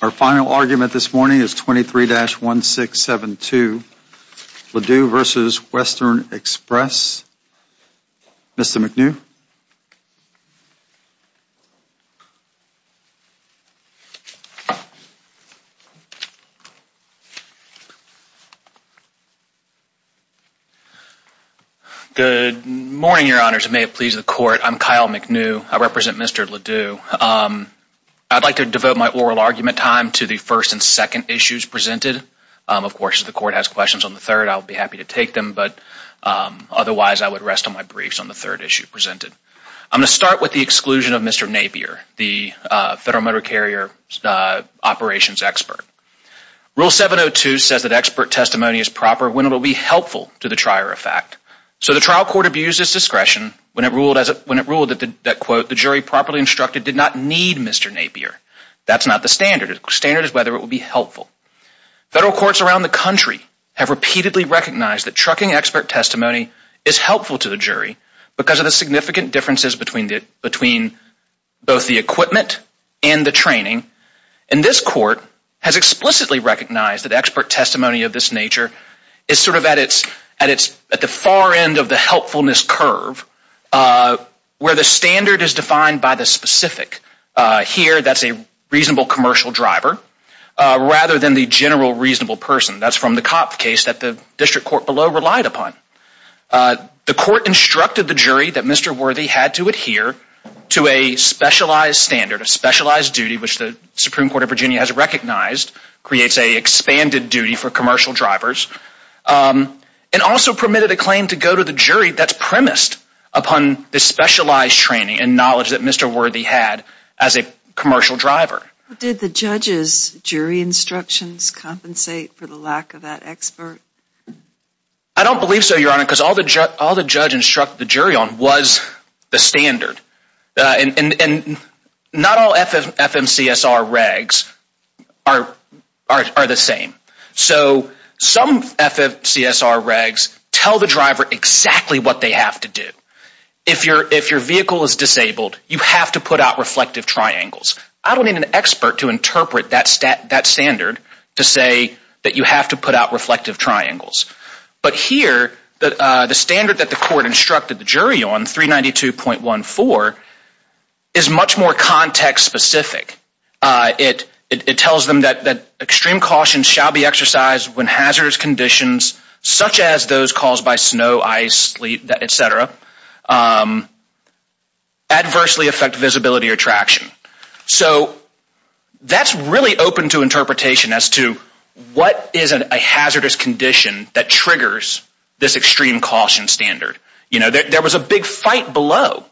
Our final argument this morning is 23-1672, Le Doux v. Western Express. Mr. McNew? Good morning, Your Honors. And may it please the Court, I'm Kyle McNew. I represent Mr. Le Doux. I'd like to devote my oral argument time to the first and second issues presented. Of course, if the Court has questions on the third, I'll be happy to take them, but otherwise I would rest on my briefs on the third issue presented. I'm going to start with the exclusion of Mr. Napier, the Federal Motor Carrier Operations Expert. Rule 702 says that expert testimony is proper when it will be helpful to the trier of fact. So the trial court abused its discretion when it ruled that, quote, the jury properly instructed did not need Mr. Napier. That's not the standard. The standard is whether it will be helpful. Federal courts around the country have repeatedly recognized that trucking expert testimony is helpful to the jury because of the significant differences between both the equipment and the training. And this Court has explicitly recognized that expert testimony of this nature is sort of at the far end of the helpfulness curve where the standard is defined by the specific. Here, that's a reasonable commercial driver rather than the general reasonable person. That's from the Copp case that the district court below relied upon. The court instructed the jury that Mr. Worthy had to adhere to a specialized standard, a specialized duty, which the Supreme Court of Virginia has recognized creates a expanded duty for commercial drivers and also permitted a claim to go to the jury that's premised upon the specialized training and knowledge that Mr. Worthy had as a commercial driver. Did the judge's jury instructions compensate for the lack of that expert? I don't believe so, Your Honor, because all the judge instructed the jury on was the standard. And not all FMCSR regs are the same. So some FMCSR regs tell the driver exactly what they have to do. If your vehicle is disabled, you have to put out reflective triangles. I don't need an expert to interpret that standard to say that you have to put out reflective triangles. But here, the standard that the court instructed the jury on, 392.14, is much more context specific. It tells them that extreme caution shall be exercised when hazardous conditions, such as those caused by snow, ice, sleet, etc., adversely affect visibility or traction. So that's really open to interpretation as to what is a hazardous condition that triggers this extreme caution standard. There was a big fight below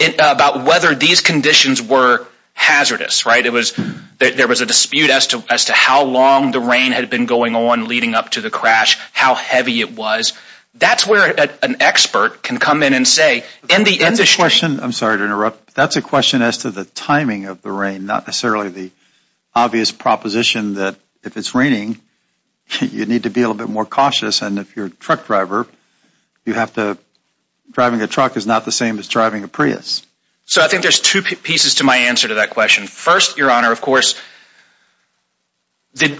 about whether these conditions were hazardous. There was a dispute as to how long the rain had been going on leading up to the crash, how heavy it was. That's where an expert can come in and say in the industry That's a question, I'm sorry to interrupt, that's a question as to the timing of the rain, not necessarily the obvious proposition that if it's raining, you need to be a little bit more cautious. And if you're a truck driver, you have to, driving a truck is not the same as driving a Prius. So I think there's two pieces to my answer to that question. First, Your Honor, of course, there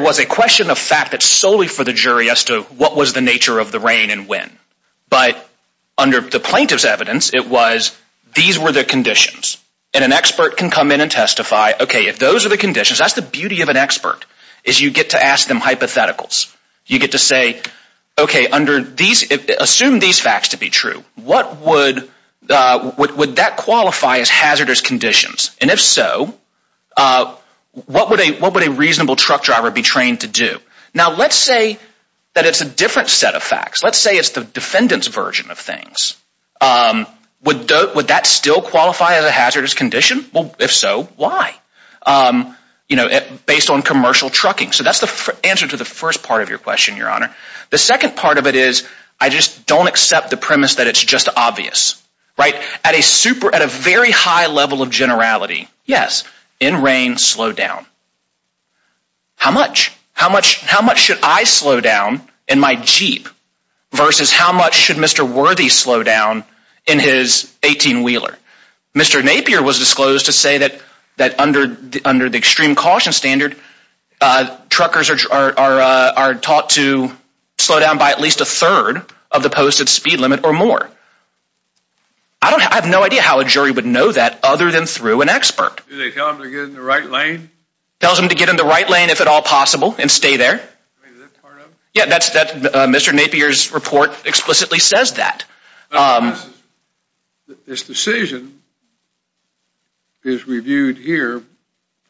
was a question of fact that's solely for the jury as to what was the nature of the rain and when. But under the plaintiff's evidence, it was these were the conditions. And an expert can come in and testify, okay, if those are the conditions, that's the beauty of an expert, is you get to ask them hypotheticals. You get to say, okay, assume these facts to be true, would that qualify as hazardous conditions? And if so, what would a reasonable truck driver be trained to do? Now, let's say that it's a different set of facts. Let's say it's the defendant's version of things. Would that still qualify as a hazardous condition? Well, if so, why? You know, based on commercial trucking. So that's the answer to the first part of your question, Your Honor. The second part of it is I just don't accept the premise that it's just obvious, right? At a very high level of generality, yes, in rain, slow down. How much? How much should I slow down in my Jeep versus how much should Mr. Worthy slow down in his 18-wheeler? Mr. Napier was disclosed to say that under the extreme caution standard, truckers are taught to slow down by at least a third of the posted speed limit or more. I have no idea how a jury would know that other than through an expert. Do they tell them to get in the right lane? Tells them to get in the right lane if at all possible and stay there. I mean, is that part of it? Yeah, Mr. Napier's report explicitly says that. This decision is reviewed here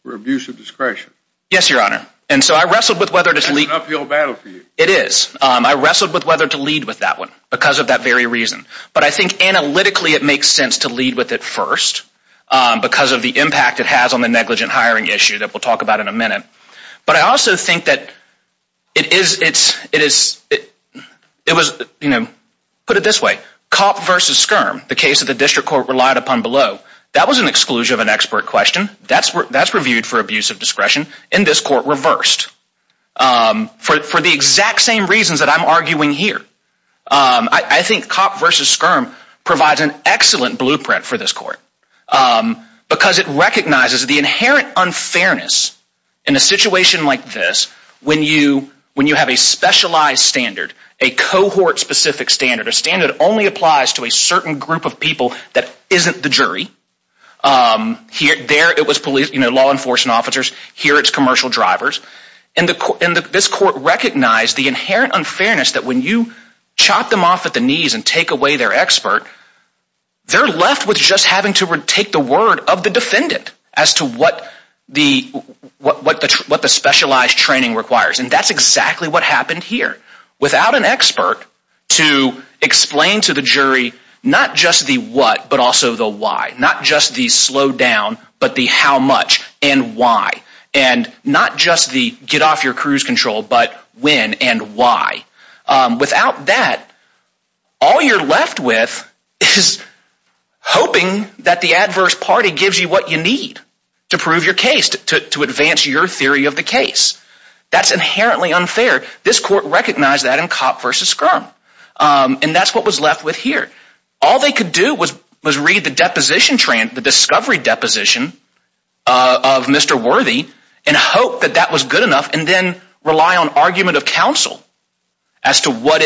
for abuse of discretion. Yes, Your Honor. And so I wrestled with whether to lead. It's an uphill battle for you. It is. I wrestled with whether to lead with that one because of that very reason. But I think analytically it makes sense to lead with it first because of the impact it has on the negligent hiring issue that we'll talk about in a minute. But I also think that it is – put it this way. Cop versus skirm, the case that the district court relied upon below, that was an exclusion of an expert question. That's reviewed for abuse of discretion. And this court reversed for the exact same reasons that I'm arguing here. I think cop versus skirm provides an excellent blueprint for this court because it recognizes the inherent unfairness. In a situation like this, when you have a specialized standard, a cohort-specific standard, a standard that only applies to a certain group of people that isn't the jury. There it was law enforcement officers. Here it's commercial drivers. And this court recognized the inherent unfairness that when you chop them off at the knees and take away their expert, they're left with just having to take the word of the defendant as to what the specialized training requires. And that's exactly what happened here without an expert to explain to the jury not just the what but also the why, not just the slowdown but the how much and why. And not just the get off your cruise control but when and why. Without that, all you're left with is hoping that the adverse party gives you what you need to prove your case, to advance your theory of the case. That's inherently unfair. This court recognized that in cop versus skirm. And that's what was left with here. All they could do was read the deposition, the discovery deposition of Mr. Worthy and hope that that was good enough and then rely on argument of counsel as to what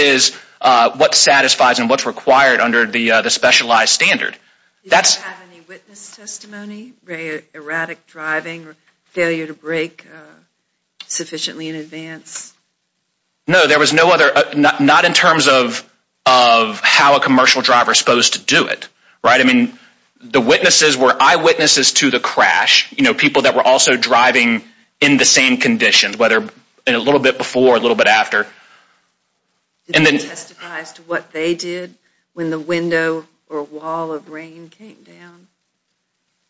satisfies and what's required under the specialized standard. Do you have any witness testimony, erratic driving, failure to brake sufficiently in advance? No, there was no other, not in terms of how a commercial driver is supposed to do it. Right? I mean, the witnesses were eyewitnesses to the crash. You know, people that were also driving in the same conditions, whether a little bit before, a little bit after. Did they testify as to what they did when the window or wall of rain came down?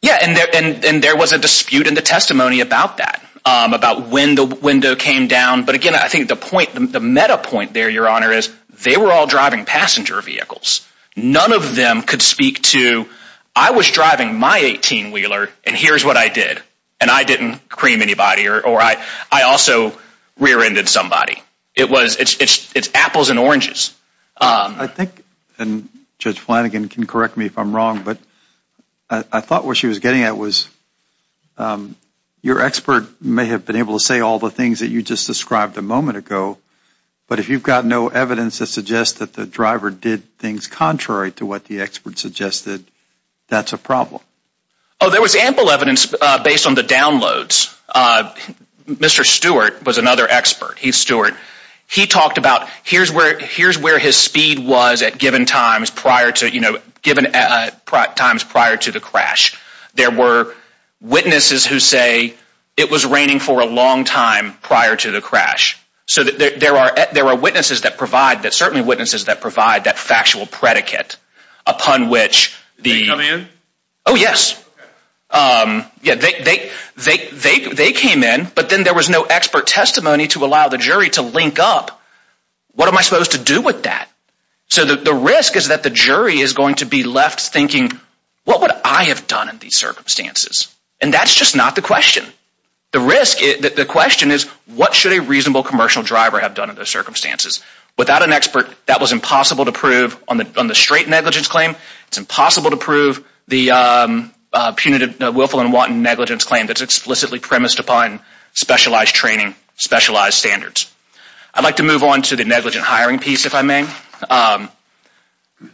Yeah, and there was a dispute in the testimony about that, about when the window came down. But again, I think the point, the meta point there, Your Honor, is they were all driving passenger vehicles. None of them could speak to, I was driving my 18-wheeler and here's what I did. And I didn't cream anybody or I also rear-ended somebody. It was, it's apples and oranges. I think, and Judge Flanagan can correct me if I'm wrong, but I thought what she was getting at was, your expert may have been able to say all the things that you just described a moment ago, but if you've got no evidence that suggests that the driver did things contrary to what the expert suggested, that's a problem. Oh, there was ample evidence based on the downloads. Mr. Stewart was another expert. He's Stewart. He talked about here's where his speed was at given times prior to, you know, given times prior to the crash. There were witnesses who say it was raining for a long time prior to the crash. So there are witnesses that provide, certainly witnesses that provide that factual predicate upon which the... Did they come in? Oh, yes. Yeah, they came in, but then there was no expert testimony to allow the jury to link up. What am I supposed to do with that? So the risk is that the jury is going to be left thinking, what would I have done in these circumstances? And that's just not the question. The question is, what should a reasonable commercial driver have done in those circumstances? Without an expert, that was impossible to prove on the straight negligence claim. It's impossible to prove the punitive, willful and wanton negligence claim that's explicitly premised upon specialized training, specialized standards. I'd like to move on to the negligent hiring piece, if I may.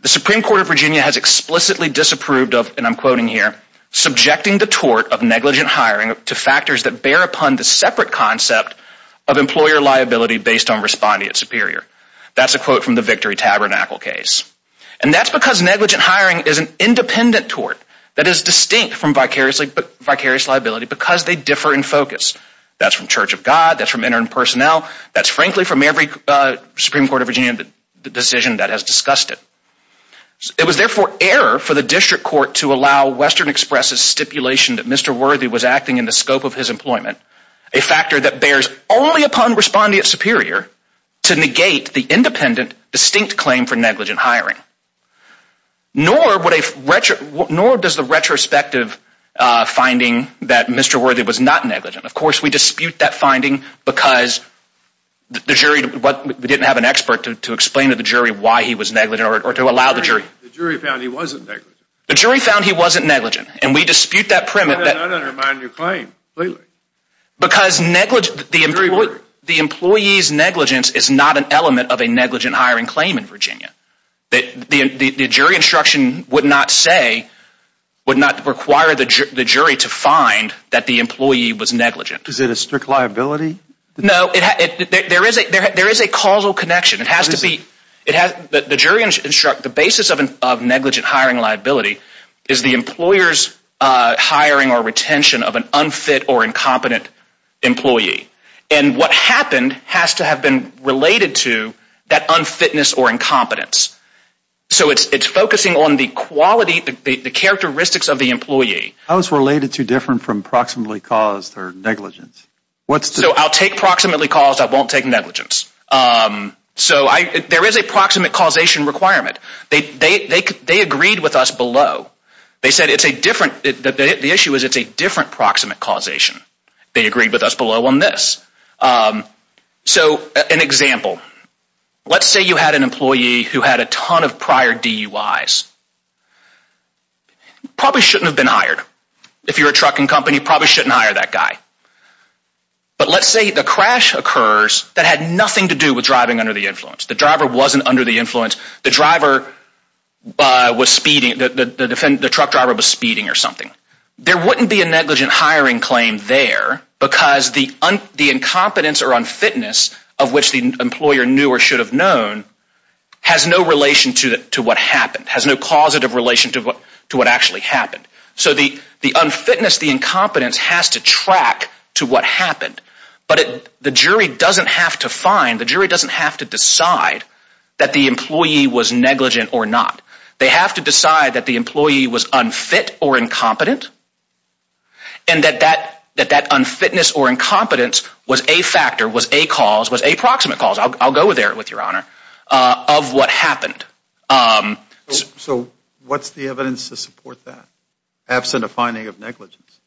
The Supreme Court of Virginia has explicitly disapproved of, and I'm quoting here, subjecting the tort of negligent hiring to factors that bear upon the separate concept of employer liability based on responding at Superior. That's a quote from the Victory Tabernacle case. And that's because negligent hiring is an independent tort that is distinct from vicarious liability because they differ in focus. That's from Church of God. That's from interim personnel. That's frankly from every Supreme Court of Virginia decision that has discussed it. It was therefore error for the district court to allow Western Express' stipulation that Mr. Worthy was acting in the scope of his employment, a factor that bears only upon responding at Superior to negate the independent, distinct claim for negligent hiring. Nor does the retrospective finding that Mr. Worthy was not negligent. Of course, we dispute that finding because the jury didn't have an expert to explain to the jury why he was negligent or to allow the jury. The jury found he wasn't negligent. The jury found he wasn't negligent, and we dispute that premise. I don't undermine your claim completely. Because the employee's negligence is not an element of a negligent hiring claim in Virginia. The jury instruction would not say, would not require the jury to find that the employee was negligent. Is it a strict liability? No, there is a causal connection. The basis of negligent hiring liability is the employer's hiring or retention of an unfit or incompetent employee. And what happened has to have been related to that unfitness or incompetence. So it's focusing on the quality, the characteristics of the employee. How is related to different from proximately caused or negligence? So I'll take proximately caused, I won't take negligence. So there is a proximate causation requirement. They agreed with us below. They said it's a different, the issue is it's a different proximate causation. They agreed with us below on this. So an example, let's say you had an employee who had a ton of prior DUIs. Probably shouldn't have been hired. If you're a trucking company, probably shouldn't hire that guy. But let's say the crash occurs that had nothing to do with driving under the influence. The driver wasn't under the influence. The truck driver was speeding or something. There wouldn't be a negligent hiring claim there because the incompetence or unfitness of which the employer knew or should have known has no relation to what happened, has no causative relation to what actually happened. So the unfitness, the incompetence has to track to what happened. But the jury doesn't have to find, the jury doesn't have to decide that the employee was negligent or not. They have to decide that the employee was unfit or incompetent. And that that unfitness or incompetence was a factor, was a cause, was a proximate cause. I'll go there with your honor, of what happened. So what's the evidence to support that, absent a finding of negligence?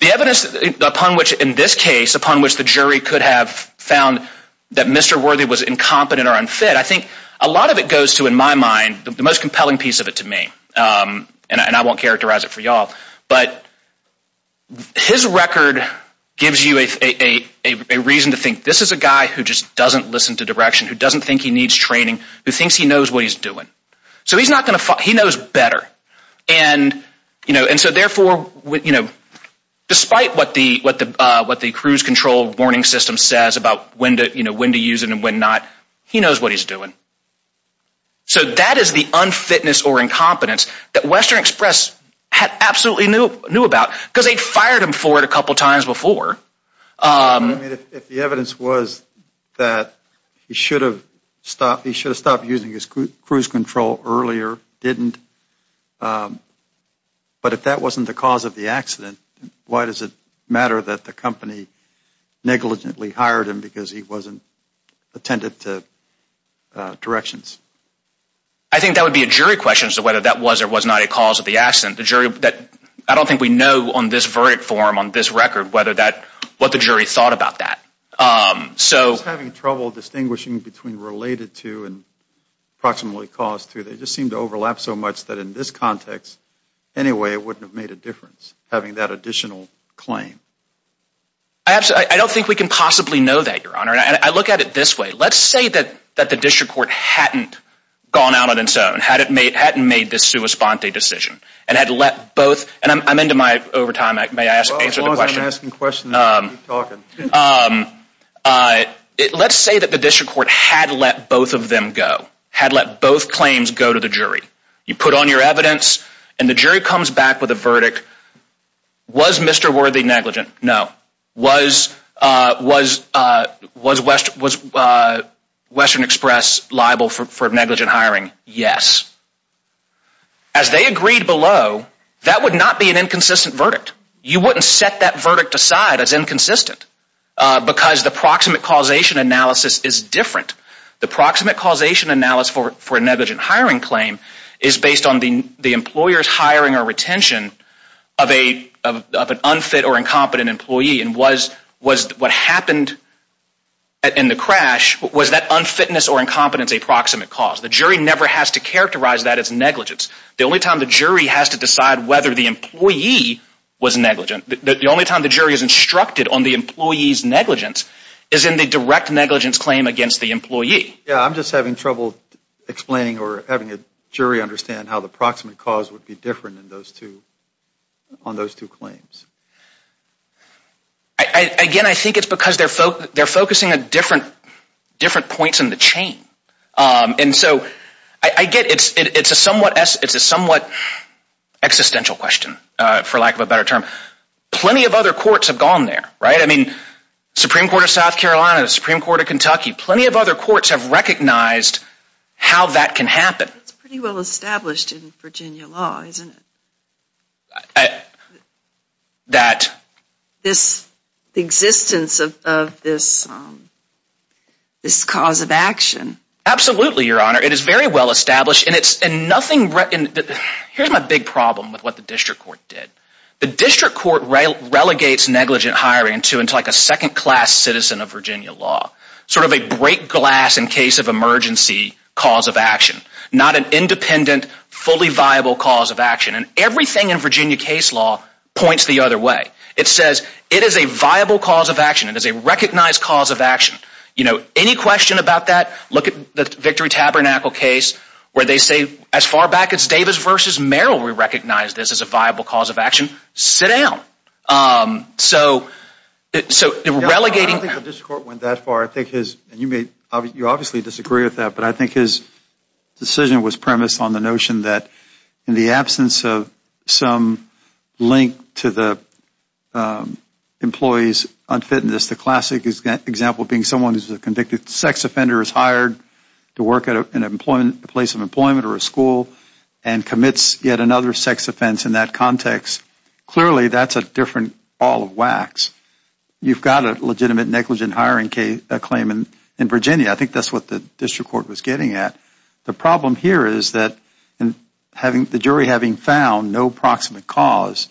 The evidence upon which in this case, upon which the jury could have found that Mr. Worthy was incompetent or unfit. I think a lot of it goes to, in my mind, the most compelling piece of it to me. And I won't characterize it for y'all. But his record gives you a reason to think this is a guy who just doesn't listen to direction, who doesn't think he needs training, who thinks he knows what he's doing. So he knows better. And so therefore, despite what the cruise control warning system says about when to use it and when not, he knows what he's doing. So that is the unfitness or incompetence that Western Express absolutely knew about. Because they'd fired him for it a couple times before. If the evidence was that he should have stopped using his cruise control earlier, didn't, but if that wasn't the cause of the accident, why does it matter that the company negligently hired him because he wasn't attentive to directions? I think that would be a jury question as to whether that was or was not a cause of the accident. The jury, I don't think we know on this verdict form, on this record, whether that, what the jury thought about that. Having trouble distinguishing between related to and approximately caused to. They just seem to overlap so much that in this context, anyway, it wouldn't have made a difference, having that additional claim. I don't think we can possibly know that, Your Honor. And I look at it this way. Let's say that the district court hadn't gone out on its own, hadn't made this sua sponte decision, and had let both, and I'm into my overtime. May I answer the question? As long as I'm asking questions, you can keep talking. Let's say that the district court had let both of them go, had let both claims go to the jury. You put on your evidence and the jury comes back with a verdict. Was Mr. Worthy negligent? No. Was Western Express liable for negligent hiring? Yes. As they agreed below, that would not be an inconsistent verdict. You wouldn't set that verdict aside as inconsistent because the proximate causation analysis is different. The proximate causation analysis for a negligent hiring claim is based on the employer's hiring or retention of an unfit or incompetent employee. And what happened in the crash, was that unfitness or incompetence a proximate cause? The jury never has to characterize that as negligence. The only time the jury has to decide whether the employee was negligent, the only time the jury is instructed on the employee's negligence, is in the direct negligence claim against the employee. Yeah, I'm just having trouble explaining or having a jury understand how the proximate cause would be different on those two claims. Again, I think it's because they're focusing on different points in the chain. And so, I get it's a somewhat existential question, for lack of a better term. Plenty of other courts have gone there, right? I mean, the Supreme Court of South Carolina, the Supreme Court of Kentucky, plenty of other courts have recognized how that can happen. It's pretty well established in Virginia law, isn't it? This existence of this cause of action. Absolutely, Your Honor. It is very well established. Here's my big problem with what the district court did. The district court relegates negligent hiring to a second class citizen of Virginia law. Sort of a break glass in case of emergency cause of action. Not an independent, fully viable cause of action. And everything in Virginia case law points the other way. It says it is a viable cause of action. It is a recognized cause of action. Any question about that, look at the Victory Tabernacle case where they say as far back as Davis v. Merrill, we recognize this as a viable cause of action. Sit down. So, relegating... I don't think the district court went that far. You obviously disagree with that, but I think his decision was premised on the notion that in the absence of some link to the employee's unfitness, the classic example being someone who is a convicted sex offender is hired to work at a place of employment or a school and commits yet another sex offense in that context. Clearly, that's a different ball of wax. You've got a legitimate negligent hiring claim in Virginia. I think that's what the district court was getting at. The problem here is that the jury having found no proximate cause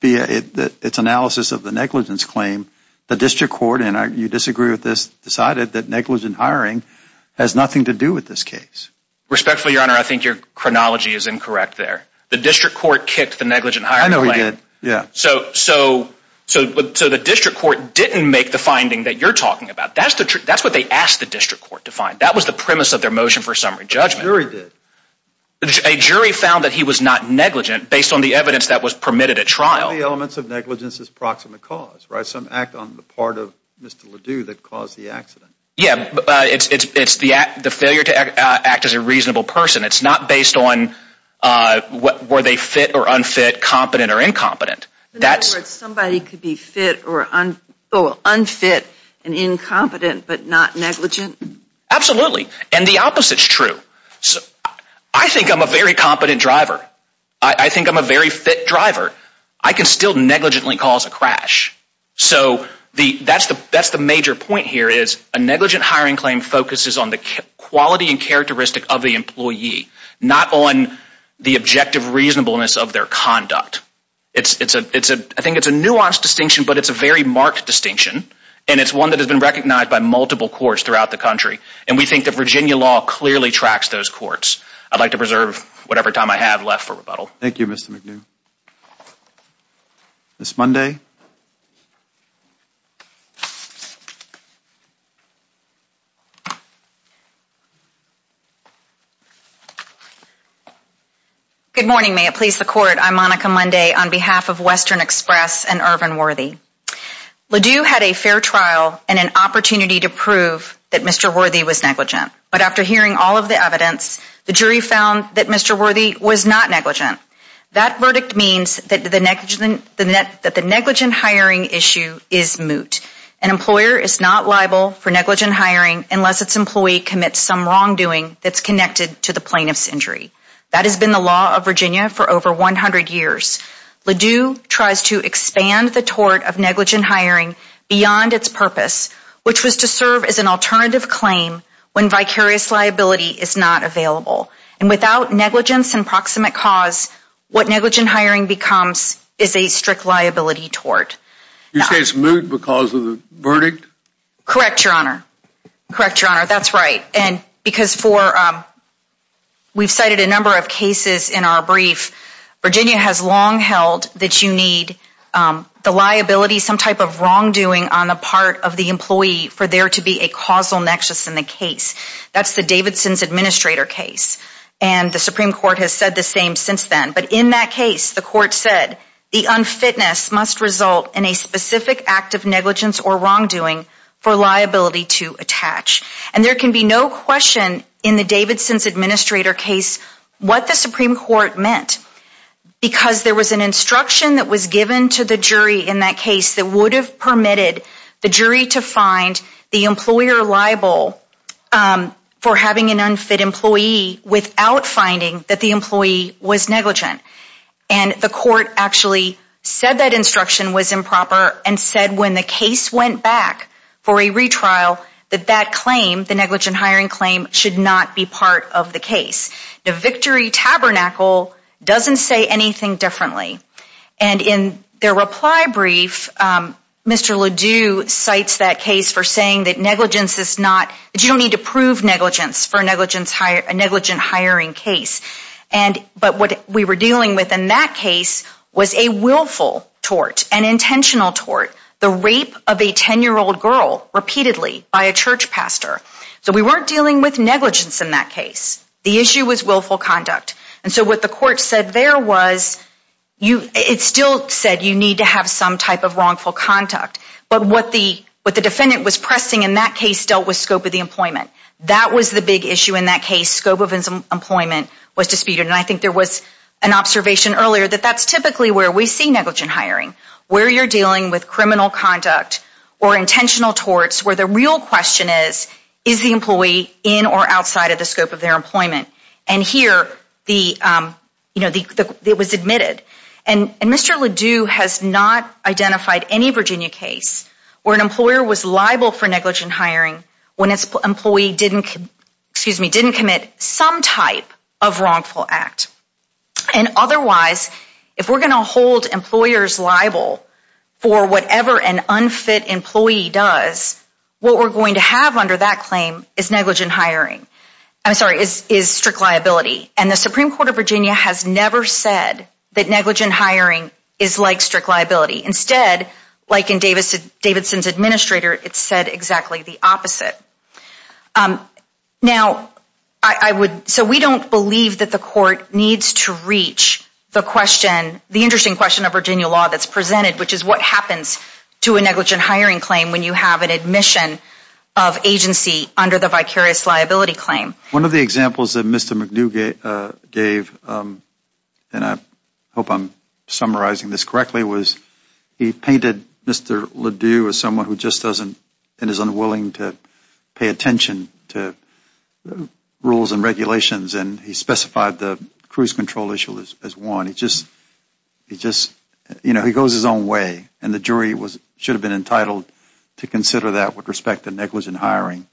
via its analysis of the negligence claim, the district court, and you disagree with this, decided that negligent hiring has nothing to do with this case. Respectfully, your honor, I think your chronology is incorrect there. The district court kicked the negligent hiring claim. I know he did. So, the district court didn't make the finding that you're talking about. That's what they asked the district court to find. That was the premise of their motion for summary judgment. A jury did. A jury found that he was not negligent based on the evidence that was permitted at trial. One of the elements of negligence is proximate cause, right? Some act on the part of Mr. Ledoux that caused the accident. Yeah, it's the failure to act as a reasonable person. It's not based on were they fit or unfit, competent or incompetent. In other words, somebody could be fit or unfit and incompetent but not negligent? Absolutely. And the opposite is true. I think I'm a very competent driver. I think I'm a very fit driver. I can still negligently cause a crash. So, that's the major point here is a negligent hiring claim focuses on the quality and characteristic of the employee. Not on the objective reasonableness of their conduct. I think it's a nuanced distinction but it's a very marked distinction. And it's one that has been recognized by multiple courts throughout the country. And we think that Virginia law clearly tracks those courts. I'd like to preserve whatever time I have left for rebuttal. Thank you, Mr. McNeal. Ms. Monday. Good morning. May it please the court. I'm Monica Monday on behalf of Western Express and Urban Worthy. Ledoux had a fair trial and an opportunity to prove that Mr. Worthy was negligent. But after hearing all of the evidence, the jury found that Mr. Worthy was not negligent. That verdict means that the negligent hiring issue is moot. An employer is not liable for negligent hiring unless its employee commits some wrongdoing that's connected to the plaintiff's injury. That has been the law of Virginia for over 100 years. Ledoux tries to expand the tort of negligent hiring beyond its purpose, which was to serve as an alternative claim when vicarious liability is not available. And without negligence and proximate cause, what negligent hiring becomes is a strict liability tort. You say it's moot because of the verdict? Correct, Your Honor. Correct, Your Honor. That's right. And because we've cited a number of cases in our brief, Virginia has long held that you need the liability, some type of wrongdoing, on the part of the employee for there to be a causal nexus in the case. That's the Davidson's Administrator case. And the Supreme Court has said the same since then. But in that case, the court said, the unfitness must result in a specific act of negligence or wrongdoing for liability to attach. And there can be no question in the Davidson's Administrator case what the Supreme Court meant. Because there was an instruction that was given to the jury in that case that would have permitted the jury to find the employer liable for having an unfit employee without finding that the employee was negligent. And the court actually said that instruction was improper and said when the case went back for a retrial that that claim, the negligent hiring claim, should not be part of the case. The victory tabernacle doesn't say anything differently. And in their reply brief, Mr. Ledoux cites that case for saying that negligence is not, that you don't need to prove negligence for a negligent hiring case. But what we were dealing with in that case was a willful tort, an intentional tort, the rape of a 10-year-old girl repeatedly by a church pastor. So we weren't dealing with negligence in that case. The issue was willful conduct. And so what the court said there was it still said you need to have some type of wrongful conduct. But what the defendant was pressing in that case dealt with scope of the employment. That was the big issue in that case, scope of employment was disputed. And I think there was an observation earlier that that's typically where we see negligent hiring, where you're dealing with criminal conduct or intentional torts where the real question is, is the employee in or outside of the scope of their employment? And here it was admitted. And Mr. Ledoux has not identified any Virginia case where an employer was liable for negligent hiring when its employee didn't commit some type of wrongful act. And otherwise, if we're going to hold employers liable for whatever an unfit employee does, what we're going to have under that claim is negligent hiring. I'm sorry, is strict liability. And the Supreme Court of Virginia has never said that negligent hiring is like strict liability. Instead, like in Davidson's administrator, it said exactly the opposite. Now, so we don't believe that the court needs to reach the question, the interesting question of Virginia law that's presented, which is what happens to a negligent hiring claim when you have an admission of agency under the vicarious liability claim? One of the examples that Mr. McNew gave, and I hope I'm summarizing this correctly, was he painted Mr. Ledoux as someone who just doesn't and is unwilling to pay attention to rules and regulations, and he specified the cruise control issue as one. He just, you know, he goes his own way. And the jury should have been entitled to consider that with respect to negligent hiring.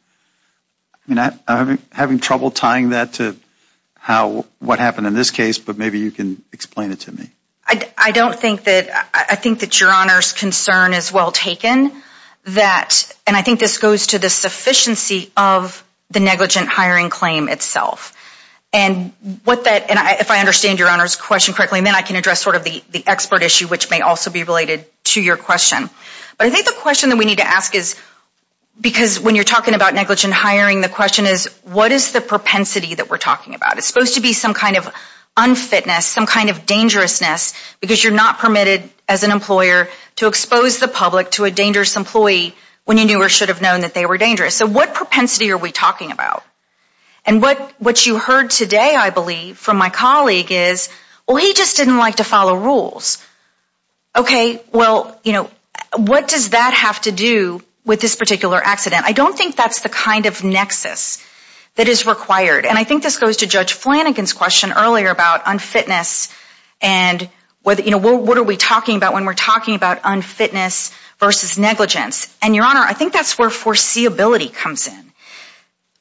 I mean, I'm having trouble tying that to what happened in this case, but maybe you can explain it to me. I don't think that, I think that your Honor's concern is well taken. And I think this goes to the sufficiency of the negligent hiring claim itself. And if I understand your Honor's question correctly, and then I can address sort of the expert issue, which may also be related to your question. But I think the question that we need to ask is, because when you're talking about negligent hiring, the question is what is the propensity that we're talking about? It's supposed to be some kind of unfitness, some kind of dangerousness, because you're not permitted as an employer to expose the public to a dangerous employee when you knew or should have known that they were dangerous. So what propensity are we talking about? And what you heard today, I believe, from my colleague is, well, he just didn't like to follow rules. Okay, well, you know, what does that have to do with this particular accident? I don't think that's the kind of nexus that is required. And I think this goes to Judge Flanagan's question earlier about unfitness and what are we talking about when we're talking about unfitness versus negligence. And your Honor, I think that's where foreseeability comes in.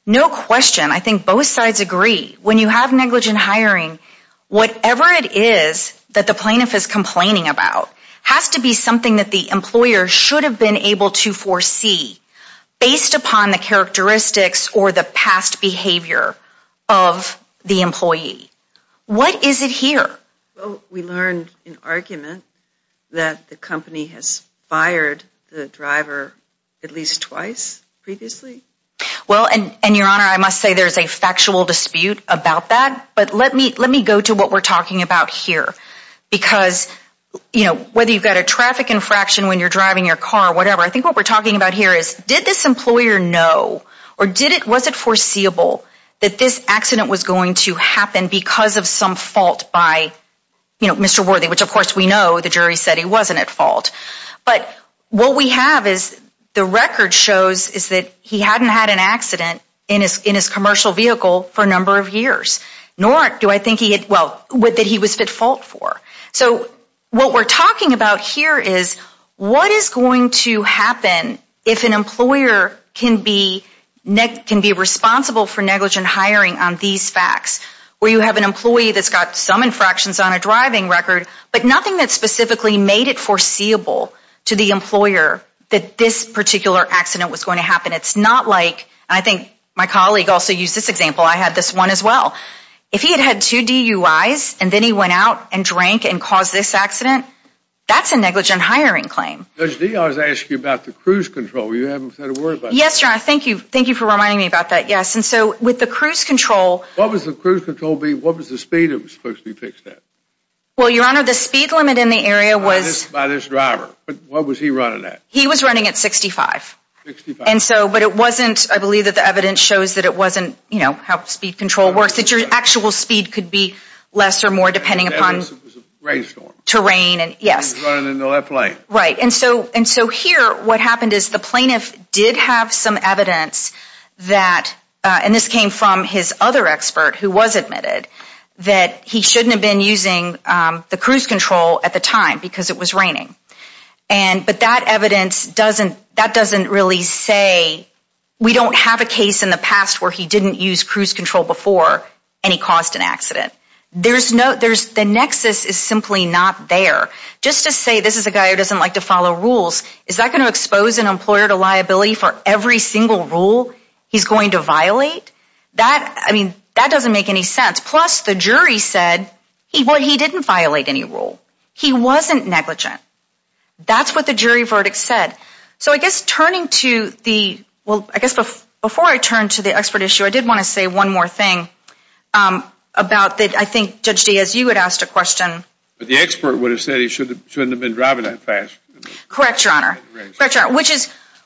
No question, I think both sides agree, when you have negligent hiring, whatever it is that the plaintiff is complaining about has to be something that the employer should have been able to foresee based upon the characteristics or the past behavior of the employee. What is it here? Well, we learned in argument that the company has fired the driver at least twice previously. Well, and your Honor, I must say there's a factual dispute about that. But let me go to what we're talking about here. Because, you know, whether you've got a traffic infraction when you're driving your car or whatever, I think what we're talking about here is, did this employer know or was it foreseeable that this accident was going to happen because of some fault by, you know, Mr. Worthy, which of course we know the jury said he wasn't at fault. But what we have is the record shows is that he hadn't had an accident in his commercial vehicle for a number of years, nor do I think he had, well, that he was at fault for. So what we're talking about here is what is going to happen if an employer can be responsible for negligent hiring on these facts, where you have an employee that's got some infractions on a driving record but nothing that specifically made it foreseeable to the employer that this particular accident was going to happen. It's not like, and I think my colleague also used this example. I had this one as well. If he had had two DUIs and then he went out and drank and caused this accident, that's a negligent hiring claim. Judge Dee, I was asking you about the cruise control. You haven't said a word about that. Yes, Your Honor. Thank you. Thank you for reminding me about that, yes. And so with the cruise control… What was the cruise control being? What was the speed it was supposed to be fixed at? Well, Your Honor, the speed limit in the area was… By this driver. What was he running at? He was running at 65. 65. And so, but it wasn't, I believe that the evidence shows that it wasn't, you know, how speed control works. That your actual speed could be less or more depending upon… It was a rainstorm. Terrain and, yes. He was running in the left lane. Right. And so here what happened is the plaintiff did have some evidence that, and this came from his other expert who was admitted, that he shouldn't have been using the cruise control at the time because it was raining. And, but that evidence doesn't, that doesn't really say, we don't have a case in the past where he didn't use cruise control before and he caused an accident. There's no, there's, the nexus is simply not there. Just to say this is a guy who doesn't like to follow rules, is that going to expose an employer to liability for every single rule he's going to violate? That, I mean, that doesn't make any sense. Plus, the jury said he didn't violate any rule. He wasn't negligent. That's what the jury verdict said. So I guess turning to the, well, I guess before I turn to the expert issue, I did want to say one more thing about the, I think, Judge Diaz, you had asked a question. The expert would have said he shouldn't have been driving that fast. Correct, Your Honor. Correct, Your Honor.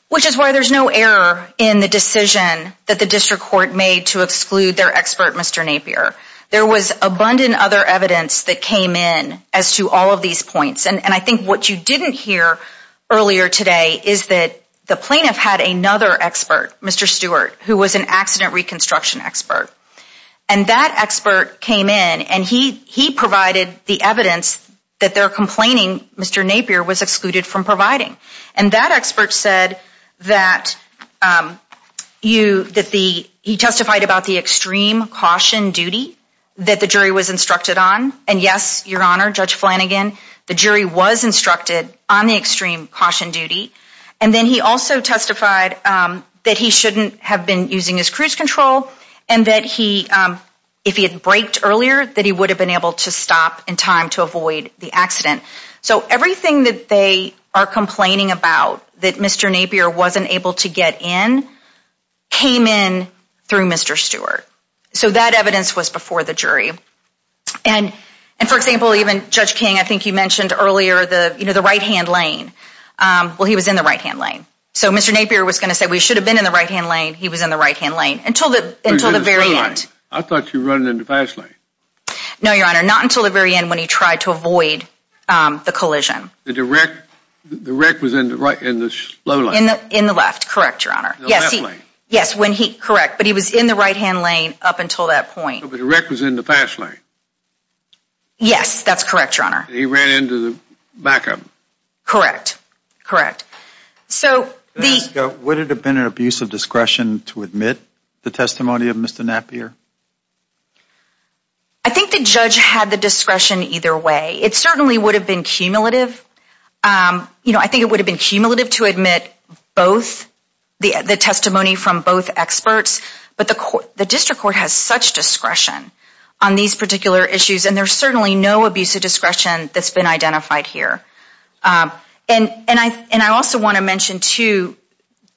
Which is why there's no error in the decision that the district court made to exclude their expert, Mr. Napier. There was abundant other evidence that came in as to all of these points. And I think what you didn't hear earlier today is that the plaintiff had another expert, Mr. Stewart, who was an accident reconstruction expert. And that expert came in and he provided the evidence that they're complaining Mr. Napier was excluded from providing. And that expert said that he testified about the extreme caution duty that the jury was instructed on. And, yes, Your Honor, Judge Flanagan, the jury was instructed on the extreme caution duty. And then he also testified that he shouldn't have been using his cruise control and that if he had braked earlier, that he would have been able to stop in time to avoid the accident. So everything that they are complaining about, that Mr. Napier wasn't able to get in, came in through Mr. Stewart. So that evidence was before the jury. And, for example, even Judge King, I think you mentioned earlier the right-hand lane. Well, he was in the right-hand lane. So Mr. Napier was going to say we should have been in the right-hand lane. He was in the right-hand lane until the very end. I thought you were running in the fast lane. No, Your Honor. Not until the very end when he tried to avoid the collision. The wreck was in the slow lane. In the left, correct, Your Honor. In the left lane. Yes, when he, correct. But he was in the right-hand lane up until that point. But the wreck was in the fast lane. Yes, that's correct, Your Honor. He ran into the back of him. Correct. So the – Would it have been an abuse of discretion to admit the testimony of Mr. Napier? I think the judge had the discretion either way. It certainly would have been cumulative. You know, I think it would have been cumulative to admit both, the testimony from both experts. But the district court has such discretion on these particular issues, and there's certainly no abuse of discretion that's been identified here. And I also want to mention, too,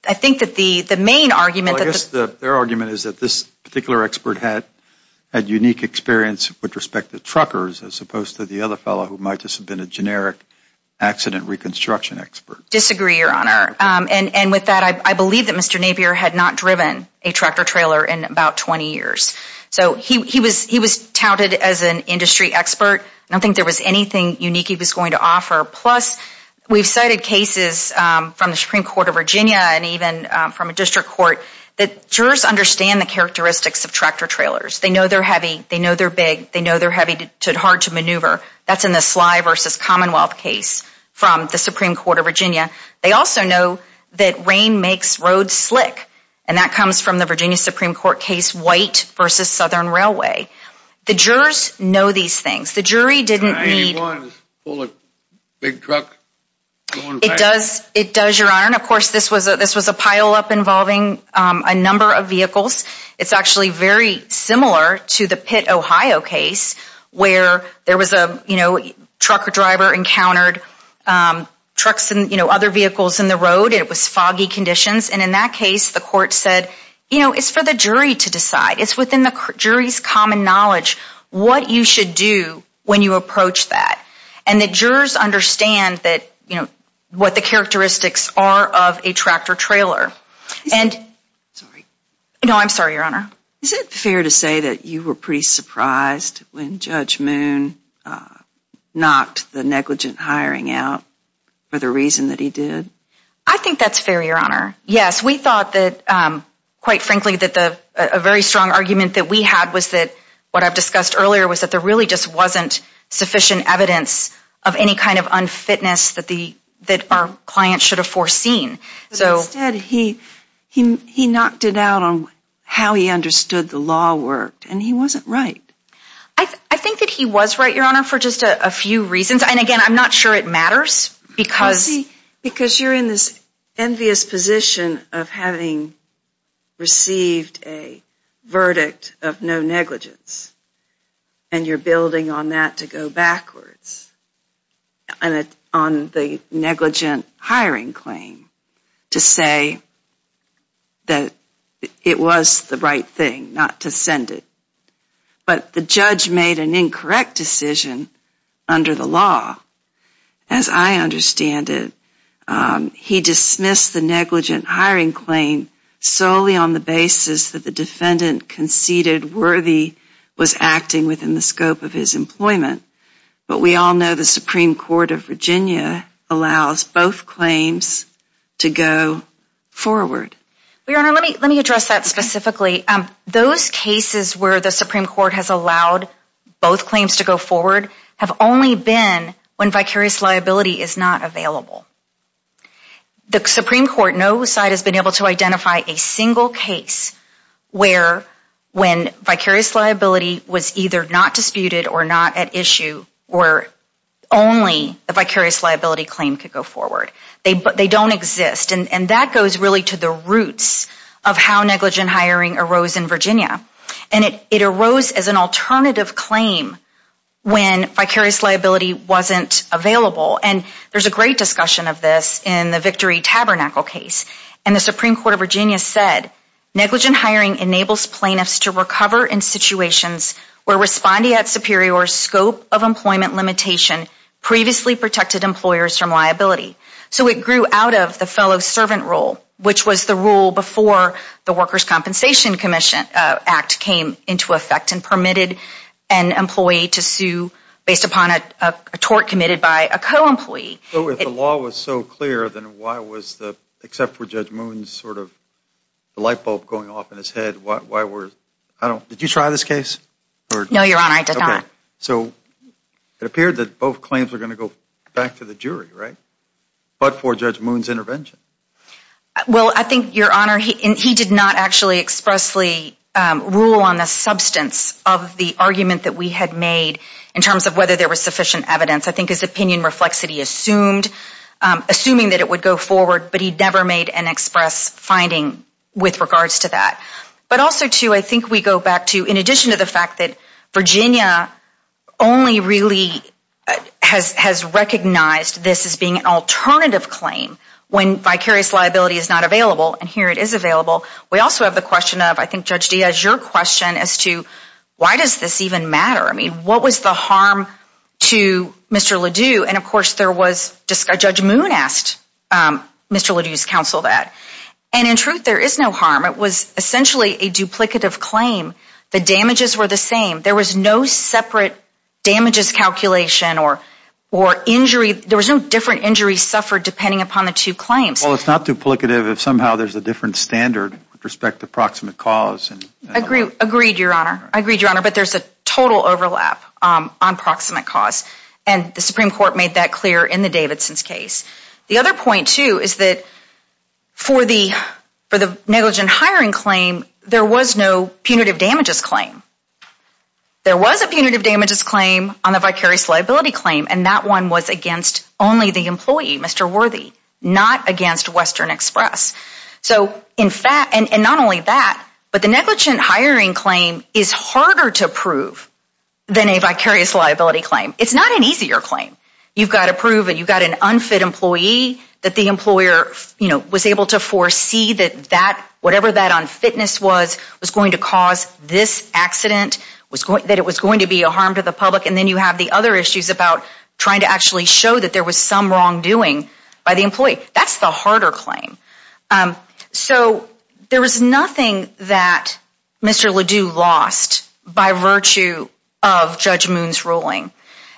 I think that the main argument – the expert had unique experience with respect to truckers as opposed to the other fellow who might just have been a generic accident reconstruction expert. Disagree, Your Honor. And with that, I believe that Mr. Napier had not driven a tractor-trailer in about 20 years. So he was touted as an industry expert. I don't think there was anything unique he was going to offer. Plus, we've cited cases from the Supreme Court of Virginia and even from a district court that jurors understand the characteristics of tractor-trailers. They know they're heavy. They know they're big. They know they're heavy, hard to maneuver. That's in the Slye v. Commonwealth case from the Supreme Court of Virginia. They also know that rain makes roads slick, and that comes from the Virginia Supreme Court case White v. Southern Railway. The jurors know these things. The jury didn't need – The 91 is full of big trucks going by. It does, Your Honor. And, of course, this was a pileup involving a number of vehicles. It's actually very similar to the Pitt, Ohio case where there was a trucker-driver encountered trucks and other vehicles in the road. It was foggy conditions. And in that case, the court said, you know, it's for the jury to decide. It's within the jury's common knowledge what you should do when you approach that. And the jurors understand that, you know, what the characteristics are of a tractor-trailer. And – Sorry. No, I'm sorry, Your Honor. Is it fair to say that you were pretty surprised when Judge Moon knocked the negligent hiring out for the reason that he did? I think that's fair, Your Honor. Yes, we thought that, quite frankly, that a very strong argument that we had was that what I've discussed earlier was that there really just wasn't sufficient evidence of any kind of unfitness that our client should have foreseen. Instead, he knocked it out on how he understood the law worked, and he wasn't right. I think that he was right, Your Honor, for just a few reasons. And, again, I'm not sure it matters because – Because you're in this envious position of having received a verdict of no negligence, and you're building on that to go backwards, on the negligent hiring claim to say that it was the right thing not to send it. But the judge made an incorrect decision under the law. As I understand it, he dismissed the negligent hiring claim solely on the basis that the defendant conceded Worthy was acting within the scope of his employment. But we all know the Supreme Court of Virginia allows both claims to go forward. Well, Your Honor, let me address that specifically. Those cases where the Supreme Court has allowed both claims to go forward have only been when vicarious liability is not available. The Supreme Court, no side has been able to identify a single case where vicarious liability was either not disputed or not at issue where only the vicarious liability claim could go forward. They don't exist. And that goes really to the roots of how negligent hiring arose in Virginia. And it arose as an alternative claim when vicarious liability wasn't available. And there's a great discussion of this in the Victory Tabernacle case. And the Supreme Court of Virginia said, negligent hiring enables plaintiffs to recover in situations where responding at superior scope of employment limitation previously protected employers from liability. So it grew out of the fellow servant rule, which was the rule before the Workers' Compensation Commission Act came into effect and permitted an employee to sue based upon a tort committed by a co-employee. But if the law was so clear, then why was the, except for Judge Moon's sort of light bulb going off in his head, why were, I don't, did you try this case? No, Your Honor, I did not. Okay. So it appeared that both claims were going to go back to the jury, right? But for Judge Moon's intervention. Well, I think, Your Honor, he did not actually expressly rule on the substance of the argument that we had made in terms of whether there was sufficient evidence. I think his opinion reflects that he assumed, assuming that it would go forward, but he never made an express finding with regards to that. But also, too, I think we go back to, in addition to the fact that Virginia only really has recognized this as being an alternative claim when vicarious liability is not available, and here it is available, we also have the question of, I think Judge Diaz, your question as to why does this even matter? I mean, what was the harm to Mr. Ledoux? And, of course, there was, Judge Moon asked Mr. Ledoux's counsel that. And, in truth, there is no harm. It was essentially a duplicative claim. The damages were the same. There was no separate damages calculation or injury. There was no different injuries suffered depending upon the two claims. Well, it's not duplicative if somehow there's a different standard with respect to proximate cause. Agreed, Your Honor. Agreed, Your Honor, but there's a total overlap on proximate cause. And the Supreme Court made that clear in the Davidson's case. The other point, too, is that for the negligent hiring claim, there was no punitive damages claim. There was a punitive damages claim on the vicarious liability claim, and that one was against only the employee, Mr. Worthy, not against Western Express. So, in fact, and not only that, but the negligent hiring claim is harder to prove than a vicarious liability claim. It's not an easier claim. You've got to prove that you've got an unfit employee, that the employer, you know, was able to foresee that that, whatever that unfitness was, was going to cause this accident, that it was going to be a harm to the public, and then you have the other issues about trying to actually show that there was some wrongdoing by the employee. That's the harder claim. So there was nothing that Mr. LeDoux lost by virtue of Judge Moon's ruling.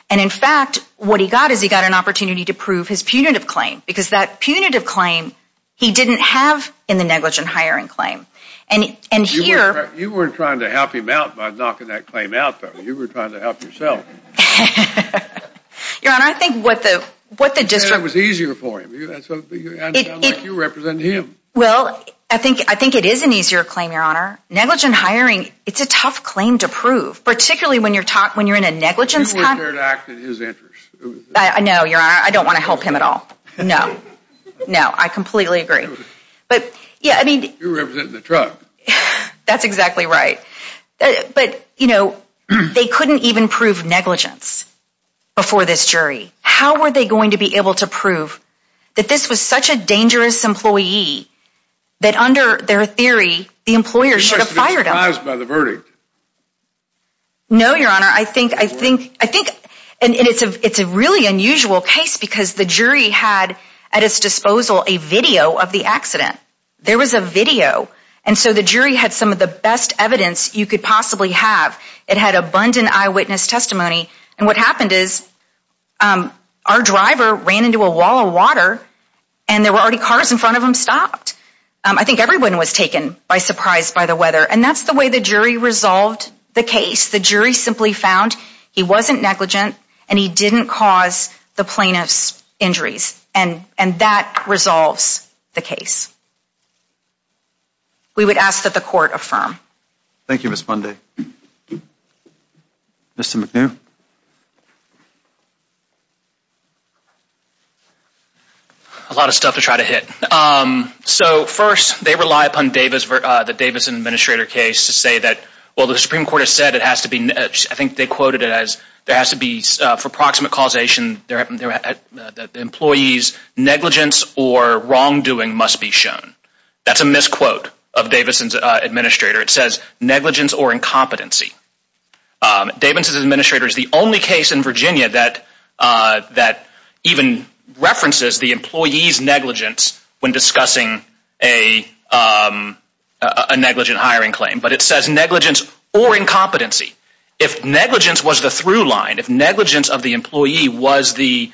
And, in fact, what he got is he got an opportunity to prove his punitive claim because that punitive claim he didn't have in the negligent hiring claim. And here— You weren't trying to help him out by knocking that claim out, though. You were trying to help yourself. Your Honor, I think what the district— You said it was easier for him. You represent him. Well, I think it is an easier claim, Your Honor. Negligent hiring, it's a tough claim to prove, particularly when you're in a negligence— You weren't there to act in his interest. I know, Your Honor. I don't want to help him at all. No. No, I completely agree. But, yeah, I mean— You represent the truck. That's exactly right. But, you know, they couldn't even prove negligence before this jury. How were they going to be able to prove that this was such a dangerous employee that under their theory, the employer should have fired him? You must be surprised by the verdict. No, Your Honor. I think— And it's a really unusual case because the jury had at its disposal a video of the accident. There was a video. And so the jury had some of the best evidence you could possibly have. It had abundant eyewitness testimony. And what happened is our driver ran into a wall of water and there were already cars in front of him stopped. I think everyone was taken by surprise by the weather. And that's the way the jury resolved the case. The jury simply found he wasn't negligent and he didn't cause the plaintiff's injuries. And that resolves the case. We would ask that the court affirm. Thank you, Ms. Fundy. Mr. McNew. A lot of stuff to try to hit. So, first, they rely upon the Davis Administrator case to say that, well, the Supreme Court has said it has to be, I think they quoted it as, there has to be, for proximate causation, the employee's negligence or wrongdoing must be shown. That's a misquote of Davis' Administrator. It says negligence or incompetency. Davis' Administrator is the only case in Virginia that even references the employee's negligence when discussing a negligent hiring claim. But it says negligence or incompetency. If negligence was the through line, if negligence of the employee was the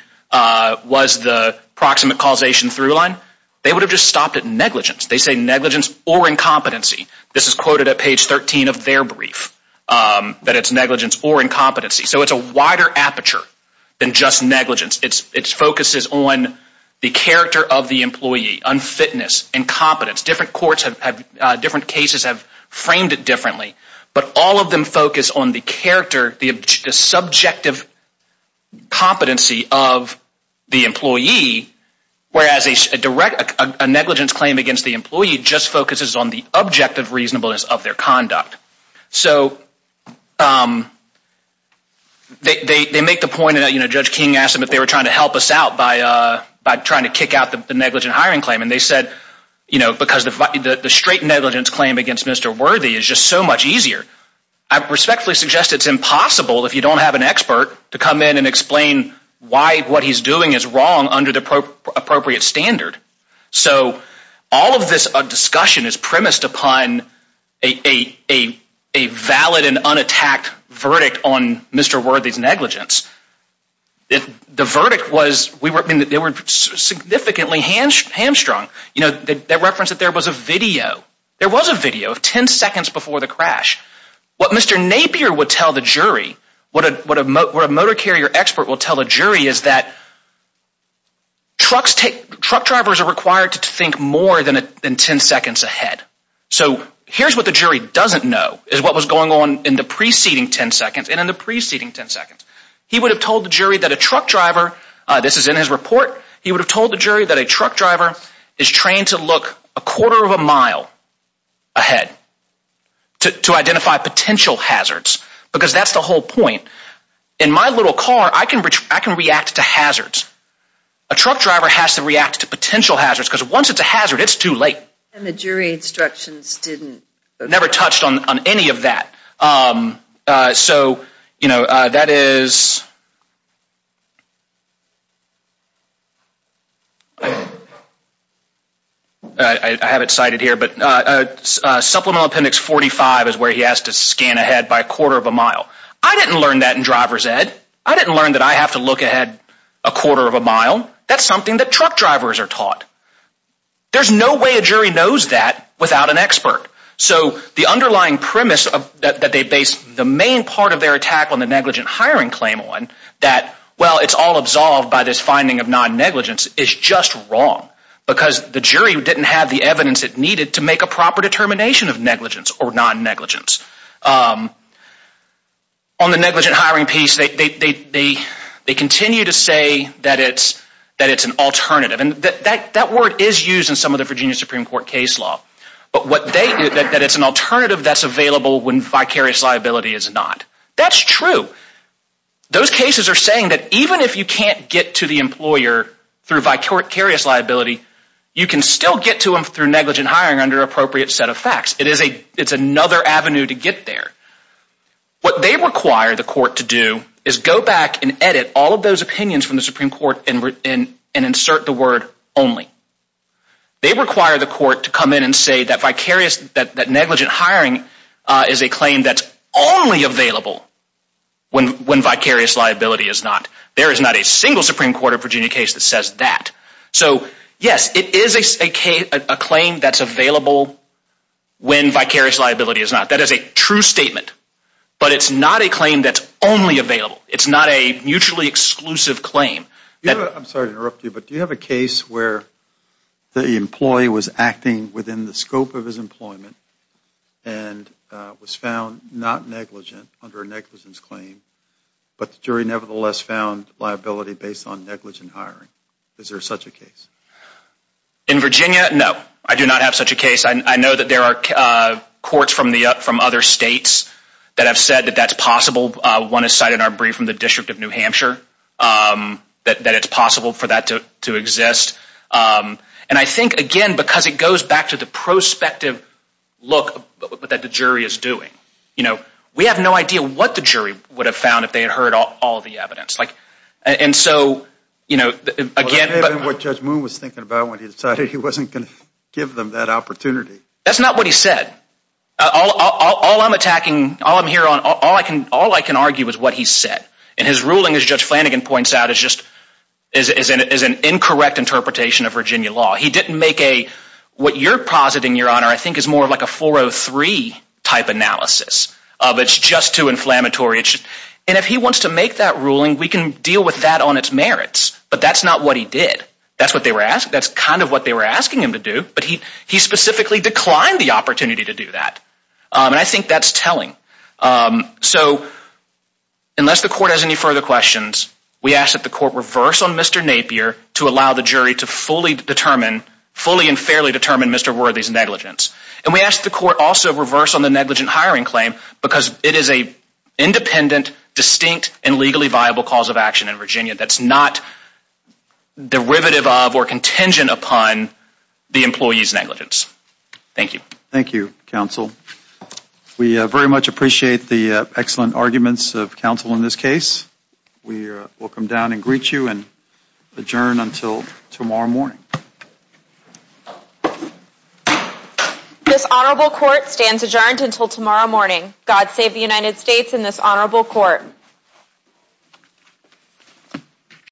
proximate causation through line, they would have just stopped at negligence. They say negligence or incompetency. This is quoted at page 13 of their brief, that it's negligence or incompetency. So it's a wider aperture than just negligence. It focuses on the character of the employee, unfitness, incompetence. Different courts have, different cases have framed it differently. But all of them focus on the character, the subjective competency of the employee, whereas a direct, a negligence claim against the employee just focuses on the objective reasonableness of their conduct. So they make the point, Judge King asked them if they were trying to help us out by trying to kick out the negligent hiring claim. And they said, you know, because the straight negligence claim against Mr. Worthy is just so much easier. I respectfully suggest it's impossible if you don't have an expert to come in and explain why what he's doing is wrong under the appropriate standard. So all of this discussion is premised upon a valid and unattacked verdict on Mr. Worthy's negligence. The verdict was, they were significantly hamstrung. They referenced that there was a video. There was a video 10 seconds before the crash. What Mr. Napier would tell the jury, what a motor carrier expert will tell a jury is that truck drivers are required to think more than 10 seconds ahead. So here's what the jury doesn't know is what was going on in the preceding 10 seconds and in the preceding 10 seconds. He would have told the jury that a truck driver, this is in his report, he would have told the jury that a truck driver is trained to look a quarter of a mile ahead to identify potential hazards because that's the whole point. In my little car, I can react to hazards. A truck driver has to react to potential hazards because once it's a hazard, it's too late. And the jury instructions didn't? Never touched on any of that. So that is? I have it cited here. Supplemental Appendix 45 is where he has to scan ahead by a quarter of a mile. I didn't learn that in driver's ed. I didn't learn that I have to look ahead a quarter of a mile. That's something that truck drivers are taught. There's no way a jury knows that without an expert. So the underlying premise that they base the main part of their attack on the negligent hiring claim on, that, well, it's all absolved by this finding of non-negligence, is just wrong because the jury didn't have the evidence it needed to make a proper determination of negligence or non-negligence. On the negligent hiring piece, they continue to say that it's an alternative. And that word is used in some of the Virginia Supreme Court case law. But what they do, that it's an alternative that's available when vicarious liability is not. That's true. Those cases are saying that even if you can't get to the employer through vicarious liability, you can still get to them through negligent hiring under an appropriate set of facts. It's another avenue to get there. What they require the court to do is go back and edit all of those opinions from the Supreme Court and insert the word only. They require the court to come in and say that vicarious, that negligent hiring is a claim that's only available when vicarious liability is not. There is not a single Supreme Court of Virginia case that says that. So, yes, it is a claim that's available when vicarious liability is not. That is a true statement. But it's not a claim that's only available. It's not a mutually exclusive claim. I'm sorry to interrupt you, but do you have a case where the employee was acting within the scope of his employment and was found not negligent under a negligence claim, but the jury nevertheless found liability based on negligent hiring? Is there such a case? In Virginia, no. I do not have such a case. I know that there are courts from other states that have said that that's possible. One has cited our brief from the District of New Hampshire that it's possible for that to exist. And I think, again, because it goes back to the prospective look that the jury is doing, we have no idea what the jury would have found if they had heard all of the evidence. What Judge Moon was thinking about when he decided he wasn't going to give them that opportunity. That's not what he said. All I'm attacking, all I'm here on, all I can argue is what he said. And his ruling, as Judge Flanagan points out, is just an incorrect interpretation of Virginia law. He didn't make a, what you're positing, Your Honor, I think is more like a 403 type analysis of it's just too inflammatory. And if he wants to make that ruling, we can deal with that on it's merits. But that's not what he did. That's what they were asking. That's kind of what they were asking him to do. But he specifically declined the opportunity to do that. And I think that's telling. So, unless the court has any further questions, we ask that the court reverse on Mr. Napier to allow the jury to fully determine, fully and fairly determine Mr. Worthy's negligence. And we ask the court also reverse on the negligent hiring claim because it is an independent, distinct, and legally viable cause of action in Virginia that's not derivative of or contingent upon the employee's negligence. Thank you. Thank you, counsel. We very much appreciate the excellent arguments of counsel in this case. We will come down and greet you and adjourn until tomorrow morning. This honorable court stands adjourned until tomorrow morning. God save the United States and this honorable court.